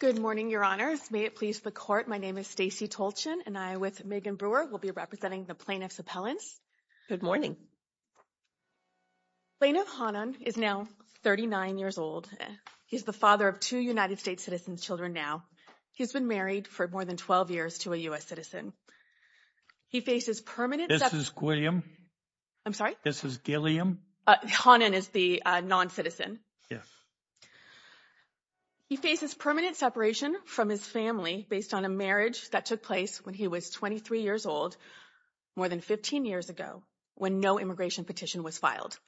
Good morning, your honors. May it please the court, my name is Stacey Tolchin and I, with Megan Brewer, will be representing the plaintiff's appellants. Good morning. Plaintiff Hanan is now 39 years old. He's the father of two United States citizens' children now. He's been married for more than 12 years to a U.S. citizen. He faces permanent- This is William. I'm sorry? This is Gilliam. Hanan is the non-citizen. Yes. He faces permanent separation from his family based on a marriage that took place when he was 23 years old, more than 15 years ago, when no immigration petition was filed.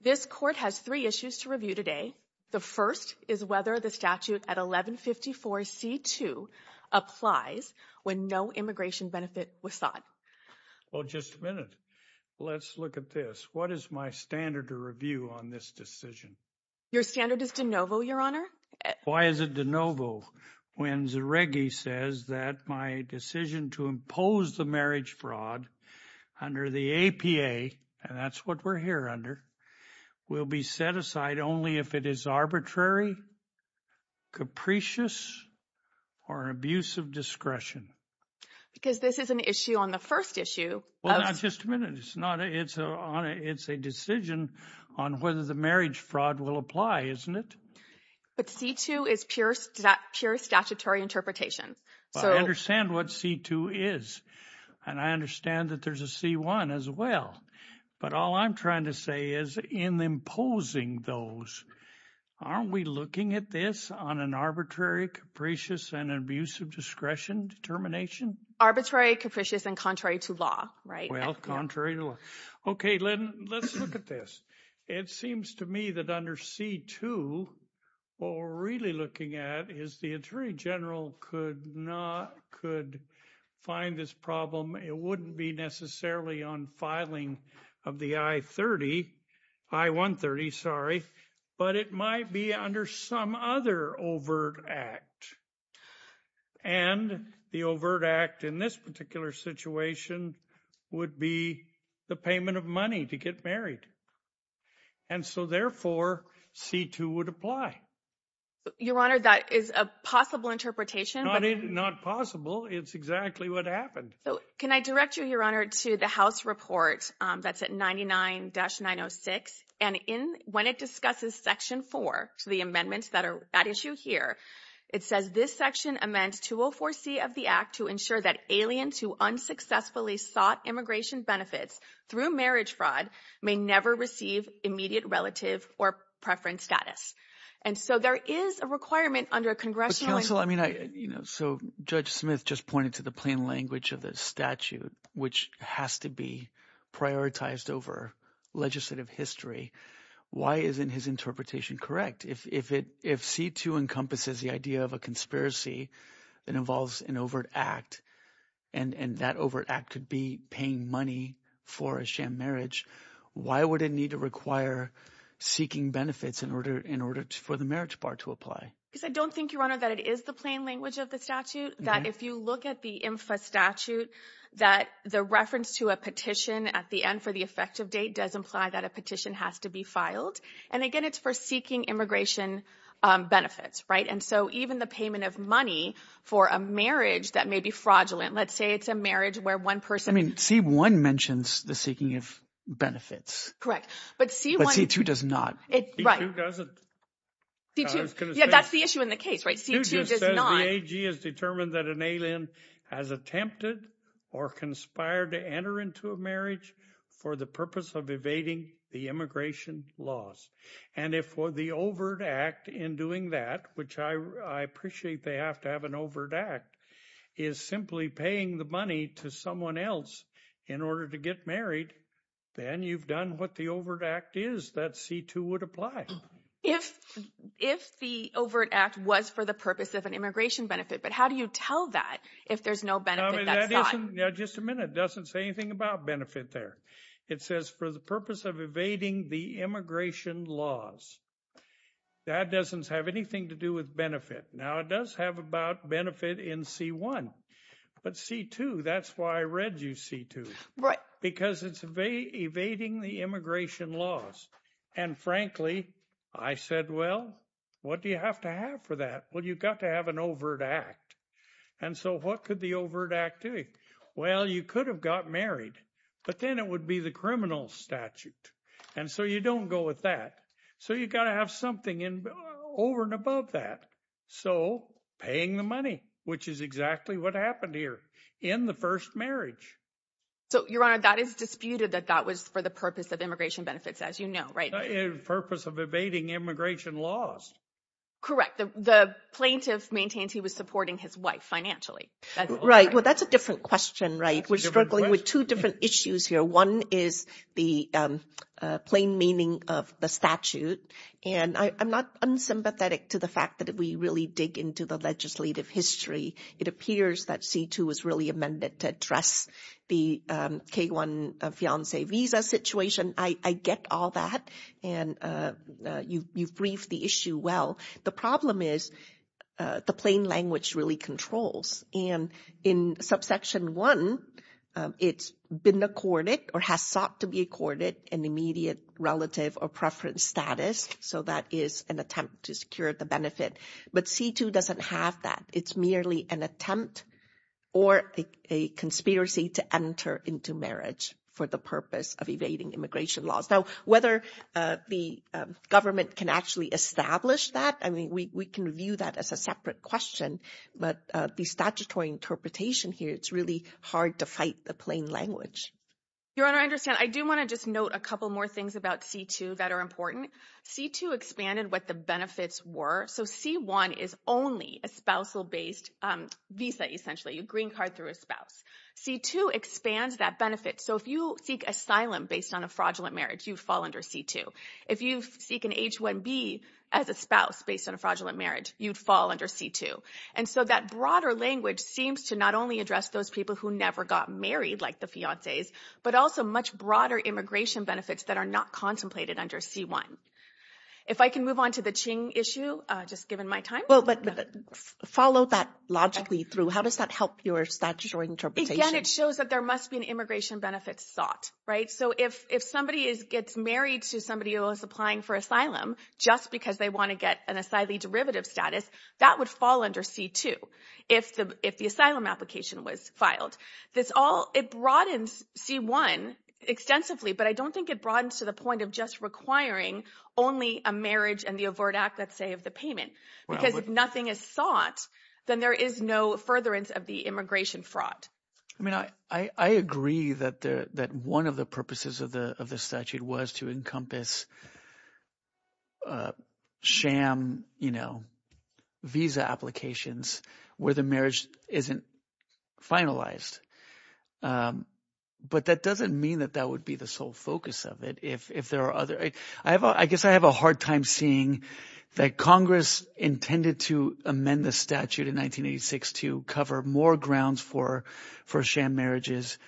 This court has three issues to review today. The first is whether the statute at 1154 C2 applies when no immigration benefit was sought. Well, just a minute. Let's look at this. What is my standard to review on this decision? Your standard is de novo, your honor. Why is it de novo when Zereggi says that my decision to impose the marriage fraud under the APA, and that's what we're here under, will be set aside only if it is arbitrary, capricious, or an abuse of discretion. Because this is an issue on the first issue. Well, just a minute. It's a decision on whether the marriage fraud will apply, isn't it? But C2 is pure statutory interpretation. Well, I understand what C2 is, and I understand that there's a C1 as well. But all I'm trying to say is, in imposing those, aren't we looking at this on an arbitrary, capricious, and an abuse of discretion determination? Arbitrary, capricious, and contrary to law, right? Well, contrary to law. Okay, Lynn, let's look at this. It seems to me that under C2, what we're really looking at is the attorney general could find this problem. It wouldn't be necessarily on filing of the I-130, but it might be under some other overt act. And the overt act in this particular situation would be the payment of money to get married. And so, therefore, C2 would apply. Your Honor, that is a possible interpretation. Not possible. It's exactly what happened. Can I direct you, Your Honor, to the House report that's at 99-906. And when it discusses the amendments that are at issue here, it says this section amends 204C of the act to ensure that aliens who unsuccessfully sought immigration benefits through marriage fraud may never receive immediate relative or preference status. And so there is a requirement under a congressional But counsel, I mean, so Judge Smith just pointed to the plain language of the statute, which has to prioritized over legislative history. Why isn't his interpretation correct? If C2 encompasses the idea of a conspiracy that involves an overt act, and that overt act could be paying money for a sham marriage, why would it need to require seeking benefits in order for the marriage bar to apply? Because I don't think, Your Honor, that it is the plain language of the statute, that if you look at the INFA statute, that the reference to a petition at the end for the effective date does imply that a petition has to be filed. And again, it's for seeking immigration benefits, right? And so even the payment of money for a marriage that may be fraudulent, let's say it's a marriage where one person... I mean, C1 mentions the seeking of benefits. Correct. But C2 does not. C2 doesn't. C2. Yeah, that's the issue in the case, right? C2 does not. The AG has determined that an alien has attempted or conspired to enter into a marriage for the purpose of evading the immigration laws. And if for the overt act in doing that, which I appreciate they have to have an overt act, is simply paying the money to someone else in order to get married, then you've done what the overt act is that C2 would apply. If the overt act was for the purpose of an immigration benefit, but how do you tell that if there's no benefit that's sought? Just a minute. It doesn't say anything about benefit there. It says for the purpose of evading the immigration laws. That doesn't have anything to do with benefit. Now it does have about benefit in C1, but C2, that's why I read you C2. Right. Because it's evading the immigration laws. And frankly, I said, well, what do you have to have for that? Well, you've got to have an overt act. And so what could the overt act do? Well, you could have got married, but then it would be the criminal statute. And so you don't go with that. So you've got to have something over and above that. So paying the money, which is exactly what happened here in the first marriage. So Your Honor, that is disputed that that was for the purpose of immigration benefits, as you know, right? The purpose of evading immigration laws. Correct. The plaintiff maintains he was supporting his wife financially. Right. Well, that's a different question, right? We're struggling with two different issues here. One is the plain meaning of the statute. And I'm not unsympathetic to the fact that we really dig into the legislative history. It appears that C2 was really amended to address the K-1 fiance visa situation. I get all that. And you've briefed the issue well. The problem is the plain language really controls. And in subsection one, it's been accorded or has sought to be accorded an immediate relative or preference status. So that is an attempt to secure the benefit. But C2 doesn't have that. It's merely an attempt or a conspiracy to enter into marriage for the purpose of evading immigration laws. Now, whether the government can actually establish that, I mean, we can view that as a separate question. But the statutory interpretation here, it's really hard to fight the plain language. Your Honor, I understand. I do want to just note a couple more things about C2 that are important. C2 expanded what the benefits were. So C1 is only a spousal-based visa, essentially. You green card through a spouse. C2 expands that benefit. So if you seek asylum based on a fraudulent marriage, you'd fall under C2. If you seek an H-1B as a spouse based on a fraudulent marriage, you'd fall under C2. And so that broader language seems to not only address those people who never got married, like the fiances, but also much broader immigration benefits that are not contemplated under C1. If I can move on to the Qing issue, just given my time. Well, but follow that logically through. How does that help your statutory interpretation? Again, it shows that there must be an immigration benefit sought, right? So if somebody gets married to somebody who is applying for asylum just because they want to get an asylee derivative status, that would fall under C2 if the asylum application was filed. It broadens C1 extensively, but I don't think it broadens to the point of just requiring only a marriage and the overt act, let's say, of the payment. Because if nothing is sought, then there is no furtherance of the immigration fraud. I mean, I agree that one of the purposes of the statute was to encompass sham visa applications where the marriage isn't finalized. But that doesn't mean that that would be the sole focus of it. If there are other – I guess I have a hard time seeing that Congress intended to amend the statute in 1986 to cover more grounds for sham marriages,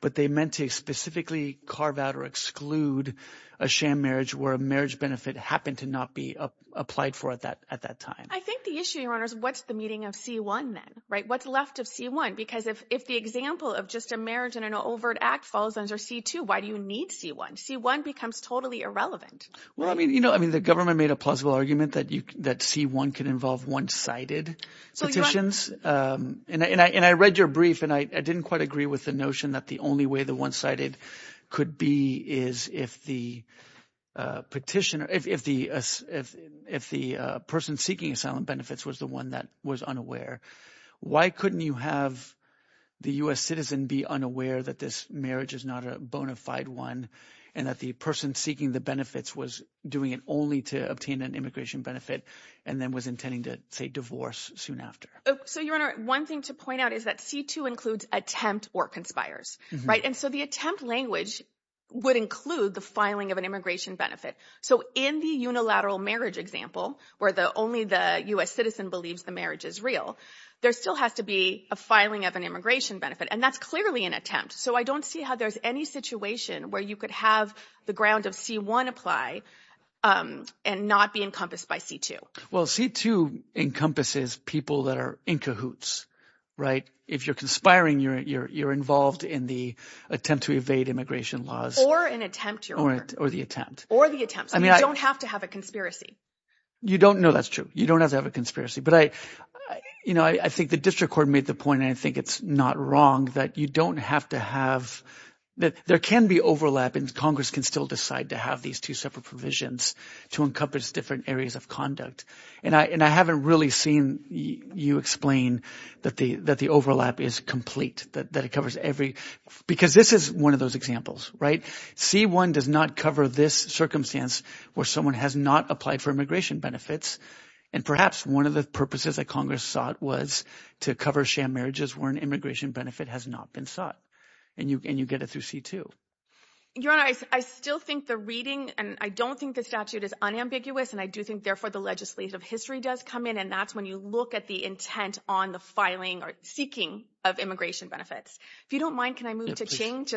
but they meant to specifically carve out or exclude a sham marriage where a marriage would not be applied for at that time. I think the issue, Your Honor, is what's the meaning of C1 then, right? What's left of C1? Because if the example of just a marriage and an overt act falls under C2, why do you need C1? C1 becomes totally irrelevant. Well, I mean, the government made a plausible argument that C1 can involve one-sided petitions. And I read your brief and I didn't quite agree with the notion that the only way one-sided could be is if the person seeking asylum benefits was the one that was unaware. Why couldn't you have the U.S. citizen be unaware that this marriage is not a bona fide one and that the person seeking the benefits was doing it only to obtain an immigration benefit and then was intending to, say, divorce soon after? So, Your Honor, one thing to point out is that C2 includes attempt or conspires, right? And so the attempt language would include the filing of an immigration benefit. So in the unilateral marriage example, where only the U.S. citizen believes the marriage is real, there still has to be a filing of an immigration benefit. And that's clearly an attempt. So I don't see how there's any situation where you could have the ground of C1 apply and not be encompassed by C2. Well, C2 encompasses people that are in cahoots, right? If you're conspiring, you're involved in the attempt to evade immigration laws. Or an attempt, Your Honor. Or the attempt. Or the attempt. So you don't have to have a conspiracy. You don't. No, that's true. You don't have to have a conspiracy. But I think the district court made the point, and I think it's not wrong, that you don't have to have that. There can be overlap, and Congress can still decide to have these two separate provisions to encompass different areas of conduct. And I haven't really seen you explain that the overlap is complete. Because this is one of those examples, right? C1 does not cover this circumstance where someone has not applied for immigration benefits. And perhaps one of the purposes that Congress sought was to cover sham marriages where an immigration benefit has not been sought. And you get it through C2. Your Honor, I still think the reading, and I don't think the statute is unambiguous, and I do think, therefore, the legislative history does come in. And that's when you look at the intent on the filing or seeking of immigration benefits. If you don't mind, can I move to Qing?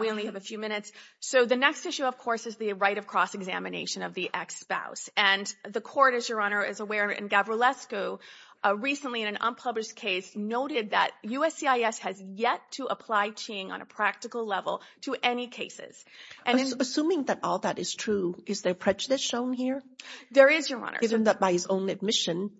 We only have a few minutes. So the next issue, of course, is the right of cross-examination of the ex-spouse. And the court, as Your Honor is aware, in Gavrilescu, recently in an unpublished case, noted that USCIS has yet to apply Qing on a practical level to any cases. Assuming that all that is true, is there prejudice shown here? There is, Your Honor. Isn't that by his own admission,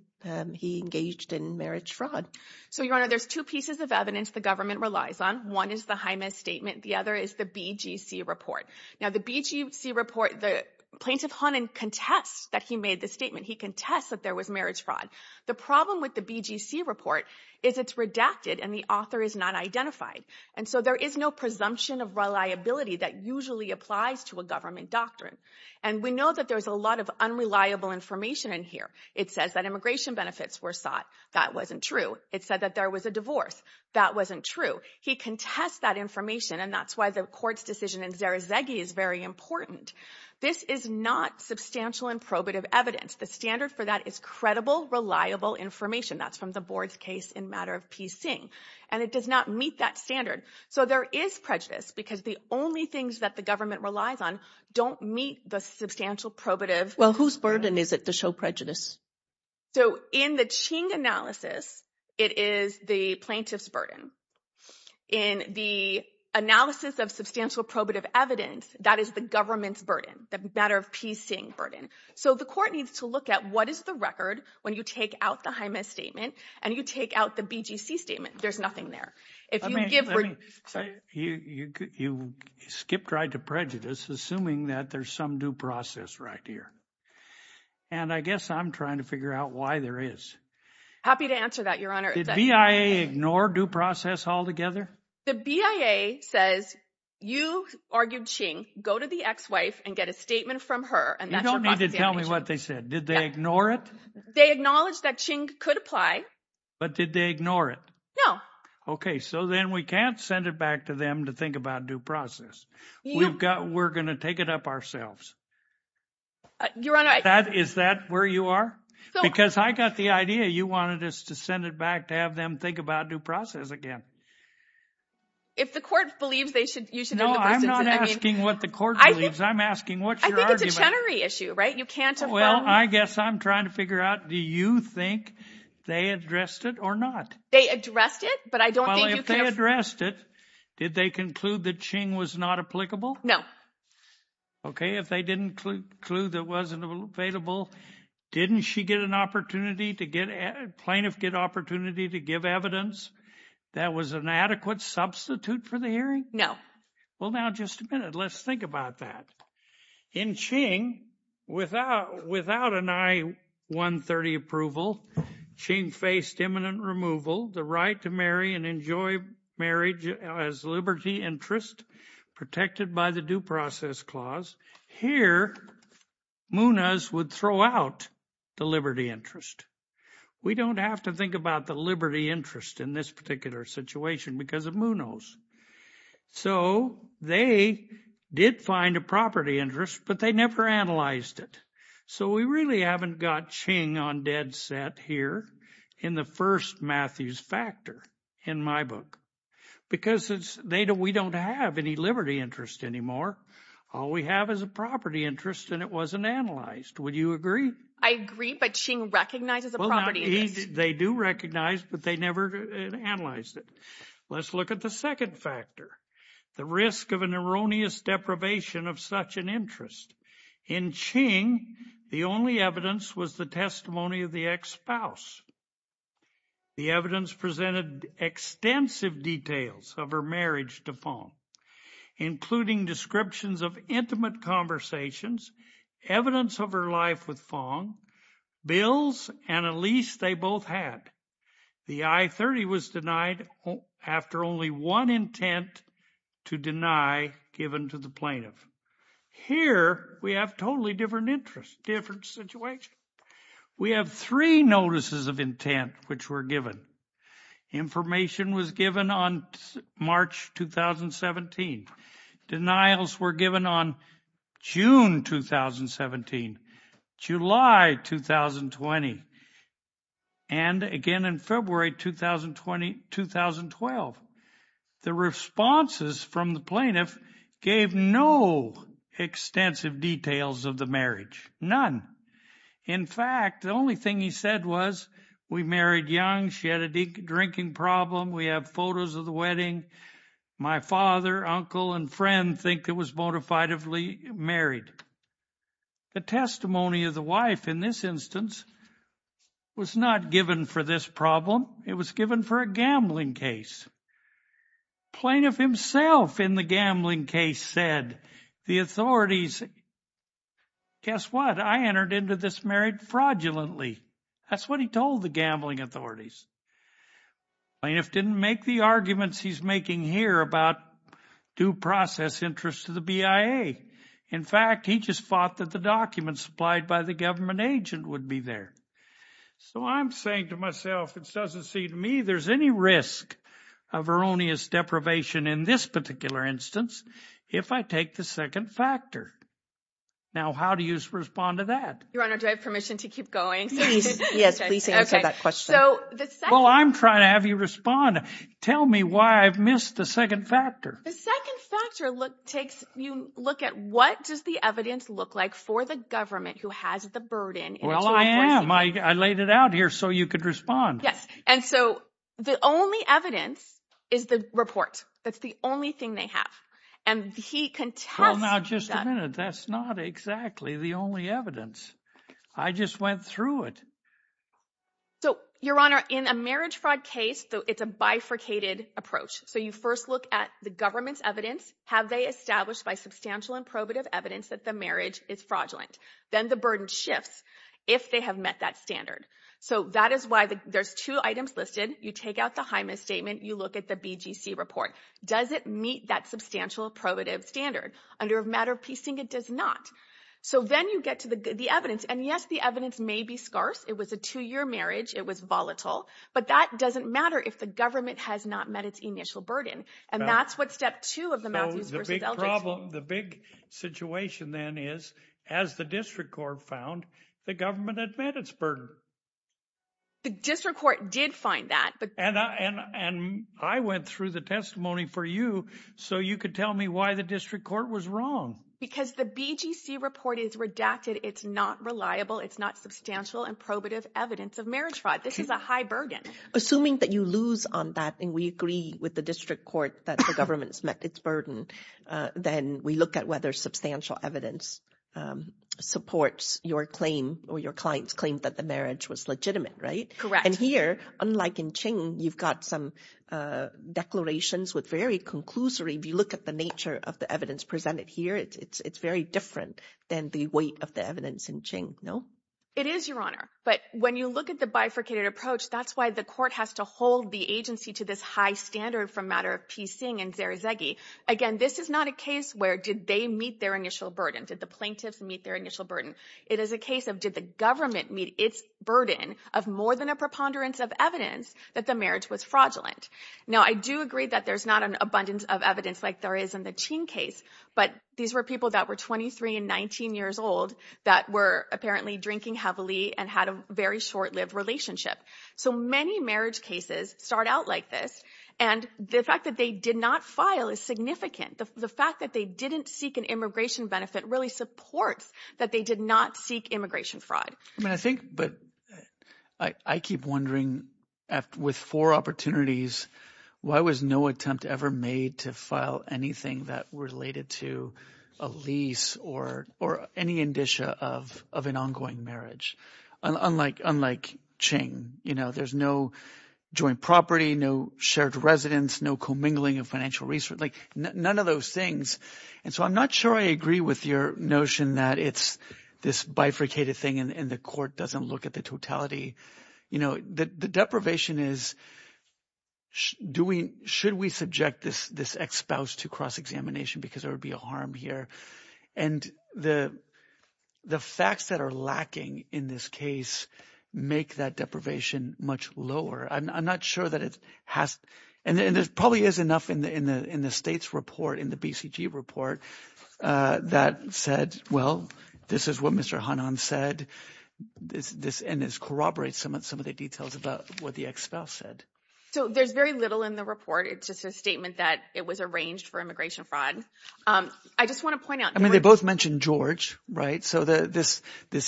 he engaged in marriage fraud? So, Your Honor, there's two pieces of evidence the government relies on. One is the Jaimez statement. The other is the BGC report. Now, the BGC report, the plaintiff, Honan, contests that he made the statement. He contests that there was marriage fraud. The problem with the BGC report is it's redacted and the author is not identified. And so there is no presumption of reliability that usually applies to a government doctrine. And we know that there's a lot of unreliable information in here. It says that immigration benefits were sought. That wasn't true. It said that there was a divorce. That wasn't true. He contests that information and that's why the court's decision in Zarazegui is very important. This is not substantial and probative evidence. The standard for that is credible, reliable information. That's from the board's case in matter of P. Singh. And it does not meet that standard. So there is prejudice because the only things that the substantial probative... Well, whose burden is it to show prejudice? So in the Ching analysis, it is the plaintiff's burden. In the analysis of substantial probative evidence, that is the government's burden, the matter of P. Singh burden. So the court needs to look at what is the record when you take out the Jaimez statement and you take out the BGC statement. There's nothing there. Let me say, you skipped right to prejudice, assuming that there's some due process right here. And I guess I'm trying to figure out why there is. Happy to answer that, Your Honor. Did BIA ignore due process altogether? The BIA says, you argued Ching, go to the ex-wife and get a statement from her. You don't need to tell me what they said. Did they ignore it? They acknowledged that Ching could apply. But did they ignore it? No. Okay. So then we can't send it back to them to think about due process. We're going to take it up ourselves. Is that where you are? Because I got the idea. You wanted us to send it back to have them think about due process again. If the court believes they should... No, I'm not asking what the court believes. I'm asking, what's your argument? I think it's a Chenery issue, right? You can't... Well, I guess I'm trying to figure out, do you think they addressed it or not? They addressed it, but I don't think you can... Well, if they addressed it, did they conclude that Ching was not applicable? No. Okay. If they didn't include a clue that wasn't available, didn't she get an opportunity to get... Plaintiff get opportunity to give evidence that was an adequate substitute for the hearing? No. Well, now, just a minute. Let's think about that. In Ching, without an I-130 approval, Ching faced imminent removal, the right to marry and enjoy marriage as liberty interest protected by the due process clause. Here, MUNAs would throw out the liberty interest. We don't have to think about the liberty interest in this particular situation because of MUNAs. So they did find a property interest, but they never analyzed it. So we really haven't got Ching on dead set here in the first Matthews factor in my book, because we don't have any liberty interest anymore. All we have is a property interest and it wasn't analyzed. Would you agree? I agree, but Ching recognizes a property interest. They do recognize, but they never analyzed it. Let's look at the second factor, the risk of an erroneous deprivation of such an interest. In Ching, the only evidence was the testimony of the ex-spouse. The evidence presented extensive details of her marriage to Fong, including descriptions of intimate conversations, evidence of her life with Fong, bills, and a lease they both had. The I-30 was denied after only one intent to deny given to the plaintiff. Here, we have totally different interest, different situation. We have three notices of intent which were given. Information was given on March 2017. Denials were given on June 2017. July 2020, and again in February 2012. The responses from the plaintiff gave no extensive details of the marriage, none. In fact, the only thing he said was, we married young, she had a drinking problem. We have photos of the wedding. My father, uncle, and friend think it was modifiably married. The testimony of the wife in this instance was not given for this problem. It was given for a gambling case. Plaintiff himself in the gambling case said, the authorities, guess what? I entered into this marriage fraudulently. That's what he told the gambling authorities. Plaintiff didn't make the arguments he's making here about due process interest to the BIA. In fact, he just thought that the documents supplied by the government agent would be there. So I'm saying to myself, it doesn't seem to me there's any risk of erroneous deprivation in this particular instance if I take the second factor. Now, how do you respond to that? Your Honor, do I have permission to keep going? Yes, please answer that question. So the second- Well, I'm trying to have you respond. Tell me why I've missed the second factor. The second factor takes you look at what does the evidence look like for the government who has the burden- Well, I am. I laid it out here so you could respond. Yes. And so the only evidence is the report. That's the only thing they have. And he contests- Well, now, just a minute. That's not exactly the only evidence. I just went through it. So, Your Honor, in a marriage fraud case, it's a bifurcated approach. So you first look at the government's evidence. Have they established by substantial and probative evidence that the marriage is fraudulent? Then the burden shifts if they have met that standard. So that is why there's two items listed. You take out the Hymas statement. You look at the BGC report. Does it meet that substantial probative standard? Under a matter of piecing, it does not. So then you get to the evidence. And yes, the evidence may be scarce. It was a two-year marriage. It was volatile. But that doesn't matter if the government has not met its initial burden. And that's what step two of the Matthews v. Eldridge- The big situation then is, as the district court found, the government had met its burden. The district court did find that. And I went through the testimony for you so you could tell me why the district court was wrong. Because the BGC report is redacted. It's not reliable. It's not substantial and probative evidence of marriage fraud. This is a high burden. Assuming that you lose on that, and we agree with the district court that the government's met its burden, then we look at whether substantial evidence supports your claim or your client's claim that the marriage was legitimate, right? Correct. And here, unlike in Qing, you've got some declarations with very conclusory. If you look at the nature of the evidence presented here, it's very different than the weight of the evidence in Qing, no? It is, Your Honor. But when you look at the bifurcated approach, that's why the court has to hold the agency to this high standard from matter of Pei Xing and Zer Zegi. Again, this is not a case where did they meet their initial burden? Did the plaintiffs meet their initial burden? It is a case of did the government meet its burden of more than a preponderance of evidence that the marriage was fraudulent? Now, I do agree that there's not an abundance of evidence like there is in the Qing case. But these were people that were 23 and 19 years old that were apparently drinking heavily and had a very short-lived relationship. So many marriage cases start out like this. And the fact that they did not file is significant. The fact that they didn't seek an immigration benefit really supports that they did not seek immigration fraud. I mean, I think, but I keep wondering with four opportunities, why was no attempt ever made to file anything that related to a lease or any indicia of an ongoing marriage? Unlike Qing, there's no joint property, no shared residence, no commingling of financial resources, like none of those things. And so I'm not sure I agree with your notion that it's this bifurcated thing and the court doesn't look at the totality. The deprivation is, should we subject this ex-spouse to cross-examination because there would be a harm here? And the facts that are lacking in this case make that deprivation much lower. I'm not sure that it has. And there probably is enough in the state's report, in the BCG report, that said, well, this is what Mr. Hanan said. And this corroborates some of the details about what the ex-spouse said. So there's very little in the report. It's just a statement that it was arranged for immigration fraud. I just want to point out... I mean, they both mentioned George, right? So this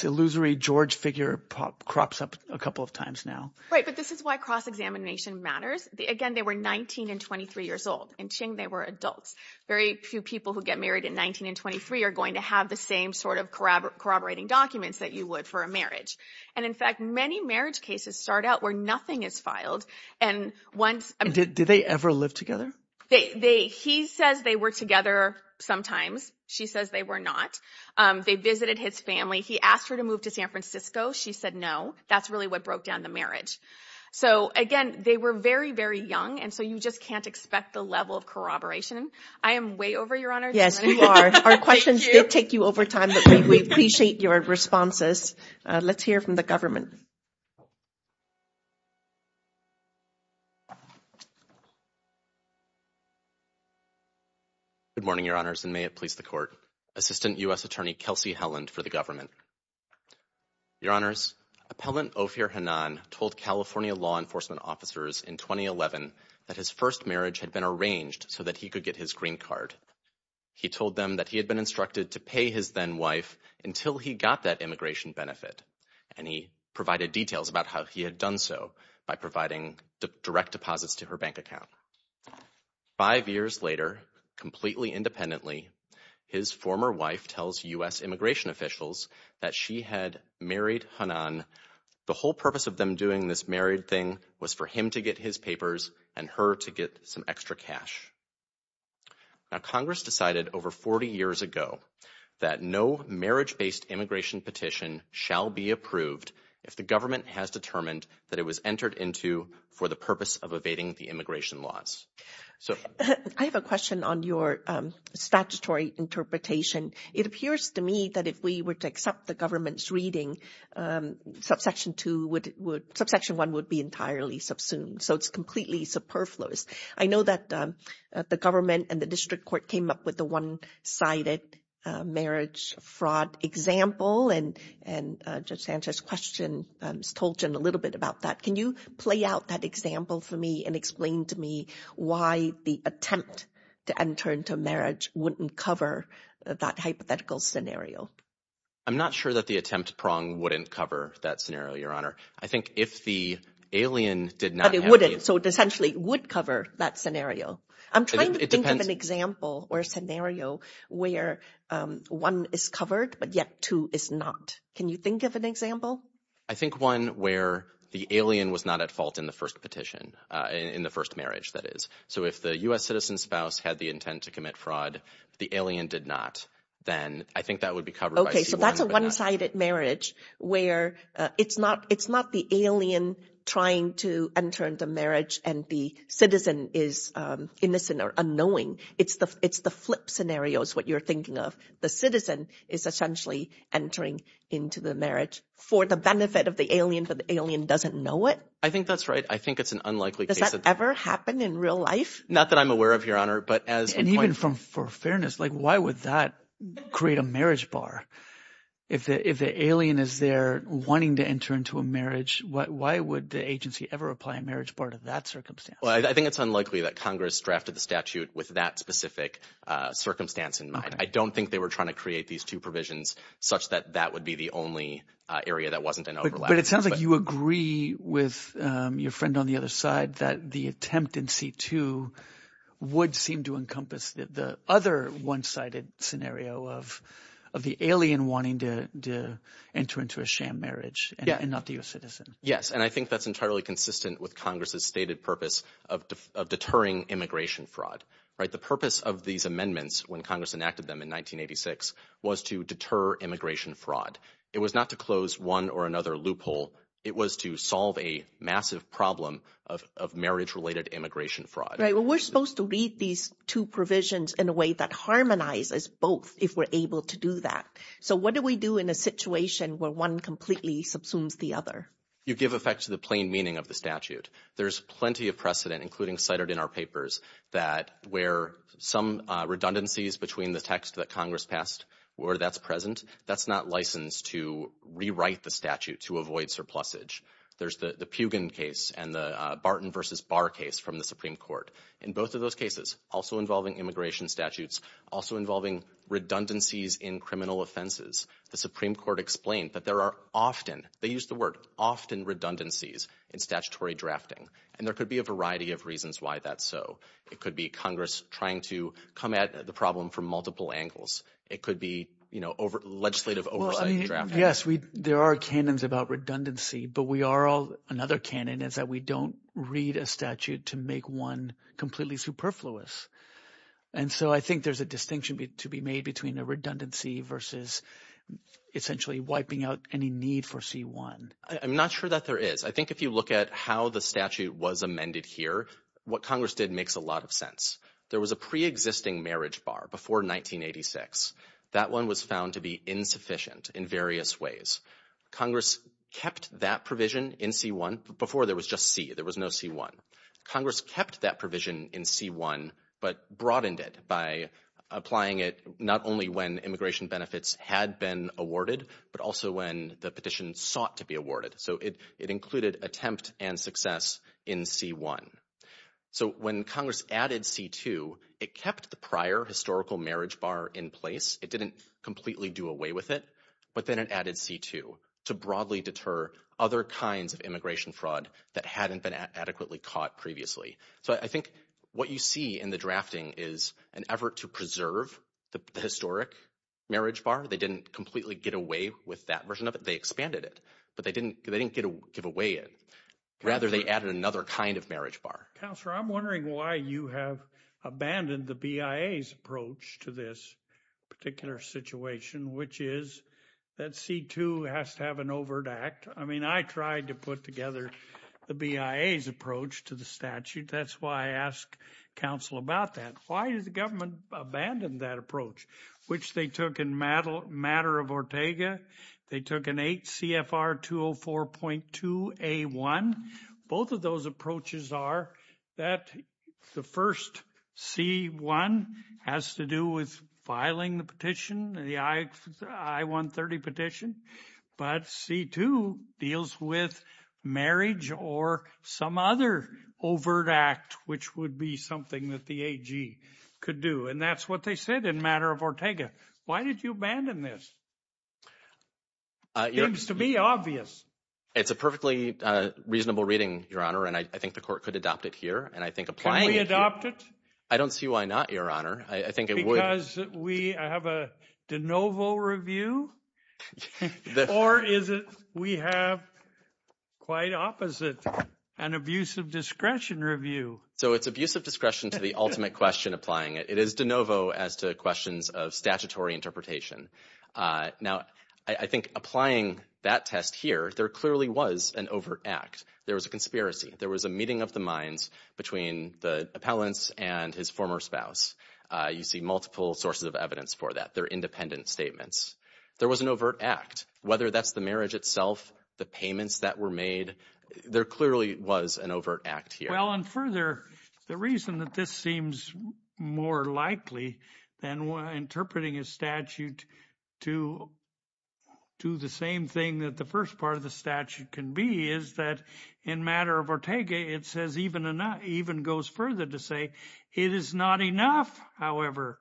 illusory George figure crops up a couple of times now. Right, but this is why cross-examination matters. Again, they were 19 and 23 years old. In Qing, they were adults. Very few people who get married in 19 and 23 are going to have the same sort of corroborating documents that you would for a marriage. And in fact, many marriage cases start out where nothing is filed. And once... Did they ever live together? They... He says they were together sometimes. She says they were not. They visited his family. He asked her to move to San Francisco. She said no. That's really what broke down the marriage. So again, they were very, very young. And so you just can't expect the level of corroboration. I am way over, Your Honor. Yes, you are. Our questions did take you over time, but we appreciate your responses. Let's hear from the government. Good morning, Your Honors, and may it please the Court. Assistant U.S. Attorney Kelsey Helland for the government. Your Honors, Appellant Ophir Hanan told California law enforcement officers in 2011 that his first marriage had been arranged so that he could get his green card. He told them that he had been instructed to pay his then-wife until he got that immigration benefit. And he provided details about how he had done so by providing direct deposits to her bank account. Five years later, completely independently, his former wife tells U.S. immigration officials that she had married Hanan. The whole purpose of them doing this married thing was for him to get his papers and her to get some extra cash. Now, Congress decided over 40 years ago that no marriage-based immigration petition shall be approved if the government has determined that it was entered into for the purpose of evading the immigration laws. I have a question on your statutory interpretation. It appears to me that if we were to accept the government's reading, subsection 1 would be entirely subsumed. So it's completely superfluous. I know that the government and the district court came up with a one-sided marriage fraud example, and Judge Sanchez's question told you a little bit about that. Can you play out that example for me and explain to me why the attempt to enter into marriage wouldn't cover that hypothetical scenario? I'm not sure that the attempt prong wouldn't cover that scenario, Your Honor. I think if the alien did not... But it wouldn't, so it essentially would cover that scenario. I'm trying to think of an example or a scenario where one is covered, but yet two is not. Can you think of an example? I think one where the alien was not at fault in the first petition, in the first marriage, that is. So if the U.S. citizen spouse had the intent to commit fraud, the alien did not, then I think that would be covered by C1. Okay, so that's a one-sided marriage where it's not the alien trying to enter into marriage and the citizen is innocent or unknowing. It's the flip scenario is what you're thinking of. The citizen is essentially entering into the marriage for the benefit of the alien, but the alien doesn't know it. I think that's right. I think it's an unlikely case. Does that ever happen in real life? Not that I'm aware of, Your Honor, but as... And even from, for fairness, like why would that create a marriage bar? If the alien is there wanting to enter into a marriage, why would the agency ever apply a marriage part of that circumstance? Well, I think it's unlikely that Congress drafted the statute with that specific circumstance in mind. I don't think they were trying to create these two provisions such that that would be the only area that wasn't an overlap. But it sounds like you agree with your friend on the other side that the attempt in C2 would seem to encompass the other one-sided scenario of the alien wanting to enter into a sham marriage and not the U.S. citizen. Yes, and I think that's entirely consistent with Congress's stated purpose of deterring immigration fraud, right? The purpose of these amendments when Congress enacted them in 1986 was to deter immigration fraud. It was not to close one or another loophole. It was to solve a massive problem of marriage-related immigration fraud. Right, well, we're supposed to read these two provisions in a way that harmonizes both if we're able to do that. So what do we do in a situation where one completely subsumes the other? You give effect to the plain meaning of the statute. There's plenty of precedent, including cited in our papers, that where some redundancies between the text that Congress passed, where that's present, that's not licensed to rewrite the statute to avoid surplusage. There's the Pugin case and the Barton v. Barr case from the Supreme Court. In both of those cases, also involving immigration statutes, also involving redundancies in criminal offenses, the Supreme Court explained that there are often, they used the word, often redundancies in statutory drafting. And there could be a variety of reasons why that's so. It could be Congress trying to come at the problem from multiple angles. It could be, you know, legislative oversight drafting. Yes, there are canons about redundancy, but another canon is that we don't read a statute to make one completely superfluous. And so I think there's a distinction to be made between a redundancy versus essentially wiping out any need for C-1. I'm not sure that there is. I think if you look at how the statute was amended here, what Congress did makes a lot of sense. There was a pre-existing marriage bar before 1986. That one was found to be insufficient in various ways. Congress kept that provision in C-1 before there was just C. There was no C-1. Congress kept that provision in C-1, but broadened it by applying it not only when immigration benefits had been awarded, but also when the petition sought to be awarded. So it included attempt and success in C-1. So when Congress added C-2, it kept the prior historical marriage bar in place. It didn't completely do away with it. But then it added C-2 to broadly deter other kinds of immigration fraud that hadn't been adequately caught previously. So I think what you see in the drafting is an effort to preserve the historic marriage bar. They didn't completely get away with that version of it. They expanded it. But they didn't give away it. Rather, they added another kind of marriage bar. Counselor, I'm wondering why you have abandoned the BIA's approach to this particular situation, which is that C-2 has to have an overt act. I mean, I tried to put together the BIA's approach to the statute. That's why I ask counsel about that. Why did the government abandon that approach, which they took in matter of Ortega? They took an 8 CFR 204.2 A-1. Both of those approaches are that the first C-1 has to do with filing the petition, the I-130 petition. But C-2 deals with marriage or some other overt act, which would be something that the AG could do. And that's what they said in matter of Ortega. Why did you abandon this? It seems to be obvious. It's a perfectly reasonable reading, Your Honor. And I think the court could adopt it here. And I think applying it... Can we adopt it? I don't see why not, Your Honor. I think it would... Because we have a de novo review? Or is it we have quite opposite, an abuse of discretion review? So it's abuse of discretion to the ultimate question applying it. It is de novo as to questions of statutory interpretation. Now, I think applying that test here, there clearly was an overt act. There was a conspiracy. There was a meeting of the minds between the appellants and his former spouse. You see multiple sources of evidence for that. They're independent statements. There was an overt act. Whether that's the marriage itself, the payments that were made, there clearly was an overt act here. Well, and further, the reason that this seems more likely than interpreting a statute to do the same thing that the first part of the statute can be is that in matter of Ortega, it says even goes further to say, it is not enough, however,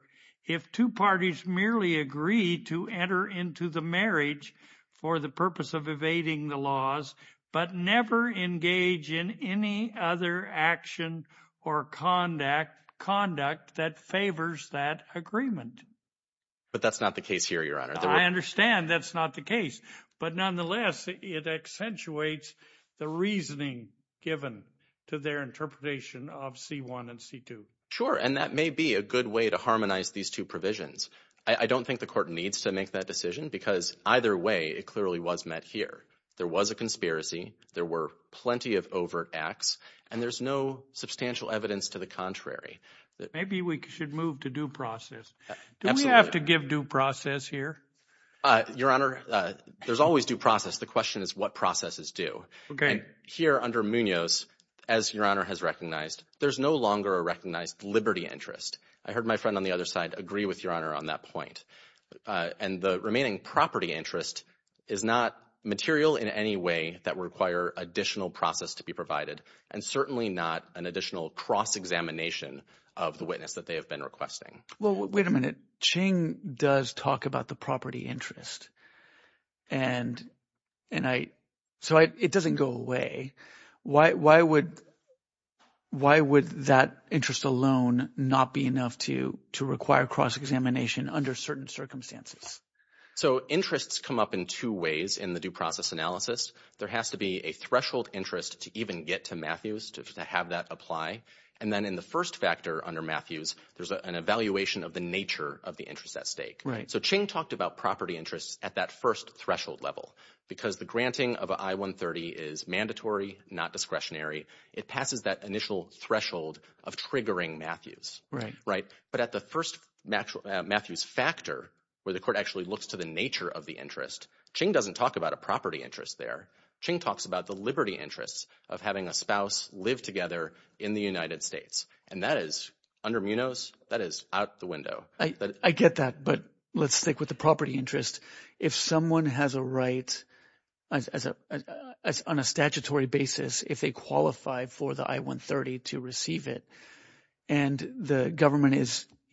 if two parties merely agree to enter into the marriage for the purpose of evading the laws, but never engage in any other action or conduct that favors that agreement. But that's not the case here, Your Honor. I understand that's not the case. But nonetheless, it accentuates the reasoning given to their interpretation of C1 and C2. Sure. And that may be a good way to harmonize these two provisions. I don't think the court needs to make that decision because either way, it clearly was met here. There was a conspiracy. There were plenty of overt acts. And there's no substantial evidence to the contrary. Maybe we should move to due process. Do we have to give due process here? Your Honor, there's always due process. The question is what processes do. Okay. Here under Munoz, as Your Honor has recognized, there's no longer a recognized liberty interest. I heard my friend on the other side agree with Your Honor on that point. And the remaining property interest is not material in any way that would require additional process to be provided, and certainly not an additional cross-examination of the witness that they have been requesting. Well, wait a minute. Ching does talk about the property interest. And so it doesn't go away. Why would that interest alone not be enough to require cross-examination under certain circumstances? So interests come up in two ways in the due process analysis. There has to be a threshold interest to even get to Matthews to have that apply. And then in the first factor under Matthews, there's an evaluation of the nature of the interest at stake. So Ching talked about property interests at that first threshold level because the granting of I-130 is mandatory, not discretionary. It passes that initial threshold of triggering Matthews. Right. But at the first Matthews factor, where the court actually looks to the nature of the interest, Ching doesn't talk about a property interest there. Ching talks about the liberty interests of having a spouse live together in the United States. And that is under Munoz. That is out the window. I get that. But let's stick with the property interest. If someone has a right on a statutory basis, if they qualify for the I-130 to receive it, and the government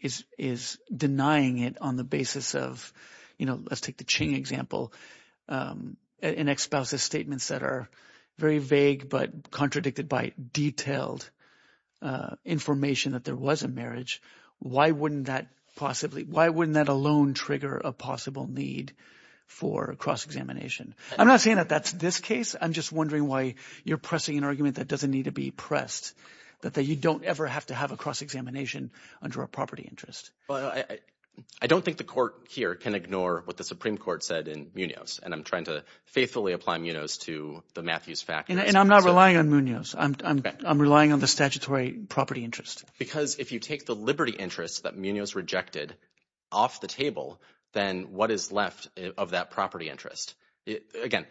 is denying it on the basis of, you know, let's take the Ching example, an ex-spouse's statements that are very vague, but contradicted by detailed information that there was a marriage. Why wouldn't that possibly – why wouldn't that alone trigger a possible need for cross-examination? I'm not saying that that's this case. I'm just wondering why you're pressing an argument that doesn't need to be pressed, that you don't ever have to have a cross-examination under a property interest. Well, I don't think the court here can ignore what the Supreme Court said in Munoz. And I'm trying to faithfully apply Munoz to the Matthews factor. And I'm not relying on Munoz. I'm relying on the statutory property interest. Because if you take the liberty interests that Munoz rejected off the table, then what is left of that property interest? Again,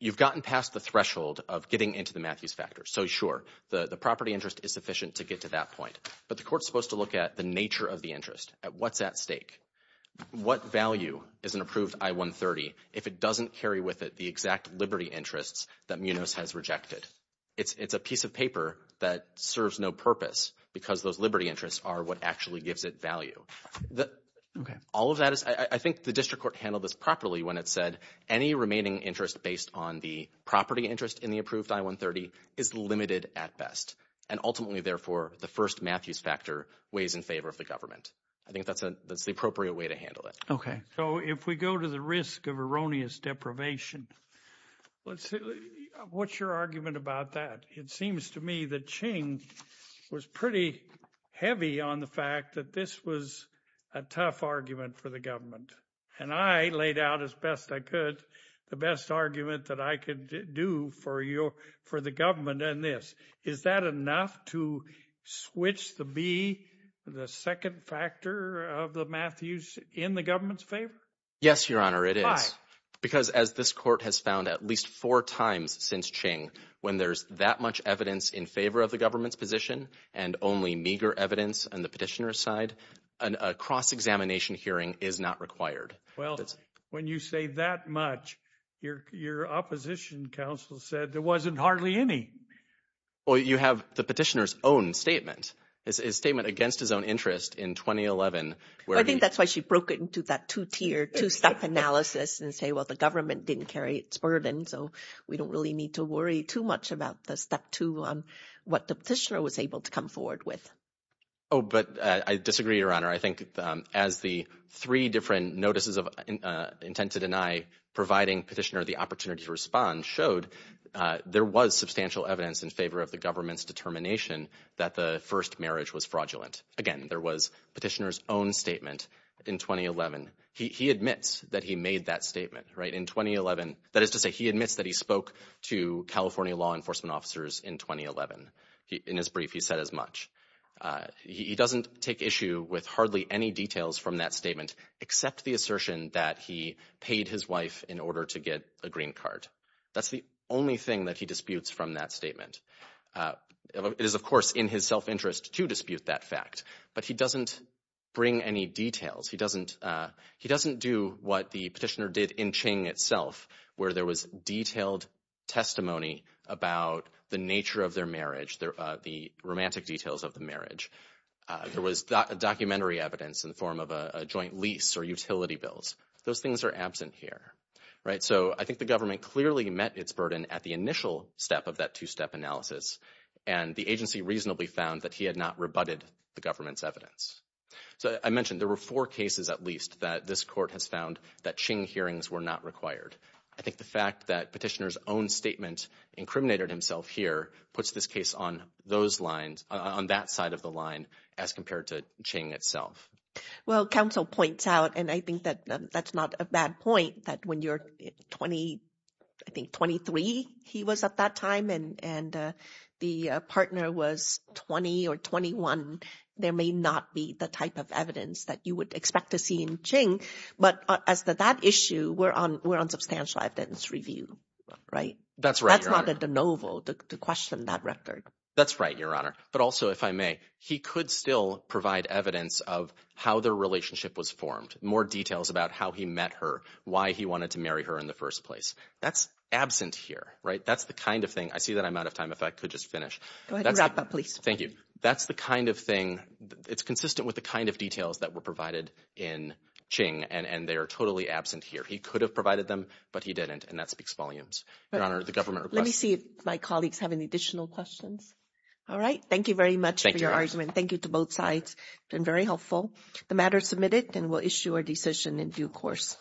you've gotten past the threshold of getting into the Matthews factor. So sure, the property interest is sufficient to get to that point. But the court's supposed to look at the nature of the interest, at what's at stake. What value is an approved I-130 if it doesn't carry with it the exact liberty interests that Munoz has rejected? It's a piece of paper that serves no purpose, because those liberty interests are what actually gives it value. All of that is – I think the district court handled this properly when it said any remaining interest based on the property interest in the approved I-130 is limited at best. And ultimately, therefore, the first Matthews factor weighs in favor of the government. I think that's the appropriate way to handle it. Okay. So if we go to the risk of erroneous deprivation, what's your argument about that? It seems to me that Ching was pretty heavy on the fact that this was a tough argument for the government. And I laid out as best I could the best argument that I could do for the government on this. Is that enough to switch the B, the second factor of the Matthews, in the government's favor? Yes, Your Honor, it is. Because as this court has found at least four times since Ching, when there's that much evidence in favor of the government's position and only meager evidence on the petitioner's side, a cross-examination hearing is not required. Well, when you say that much, your opposition counsel said there wasn't hardly any. Well, you have the petitioner's own statement. It's a statement against his own interest in 2011. I think that's why she broke it into that two-tier, two-step analysis and say, well, the government didn't carry its burden, so we don't really need to worry too much about the step two, what the petitioner was able to come forward with. Oh, but I disagree, Your Honor. I think as the three different notices of intent to deny, providing petitioner the opportunity to respond, showed there was substantial evidence in favor of the government's determination that the first marriage was fraudulent. Again, there was petitioner's own statement in 2011. He admits that he made that statement, right? In 2011, that is to say, he admits that he spoke to California law enforcement officers in 2011. In his brief, he said as much. He doesn't take issue with hardly any details from that statement except the assertion that he paid his wife in order to get a green card. That's the only thing that he disputes from that statement. It is, of course, in his self-interest to dispute that fact, but he doesn't bring any details. He doesn't do what the petitioner did in Qing itself, where there was detailed testimony about the nature of their marriage, the romantic details of the marriage. There was documentary evidence in the form of a joint lease or utility bills. Those things are absent here, right? So I think the government clearly met its burden at the initial step of that two-step analysis, and the agency reasonably found that he had not rebutted the government's evidence. So I mentioned there were four cases, at least, that this court has found that Qing hearings were not required. I think the fact that petitioner's own statement incriminated himself here puts this case on those lines, on that side of the line, as compared to Qing itself. Well, counsel points out, and I think that that's not a bad point, that when you're 20, I think 23, he was at that time, and the partner was 20 or 21, there may not be the type of evidence that you would expect to see in Qing. But as to that issue, we're on substantial evidence review, right? That's right, Your Honor. But also, if I may, he could still provide evidence of how their relationship was formed, more details about how he met her, why he wanted to marry her in the first place. That's absent here, right? That's the kind of thing... I see that I'm out of time, if I could just finish. Go ahead and wrap up, please. Thank you. That's the kind of thing... It's consistent with the kind of details that were provided in Qing, and they are totally absent here. He could have provided them, but he didn't, and that speaks volumes, Your Honor. Let me see if my colleagues have any additional questions. All right. Thank you very much for your argument. Thank you to both sides. Been very helpful. The matter is submitted, and we'll issue our decision in due course.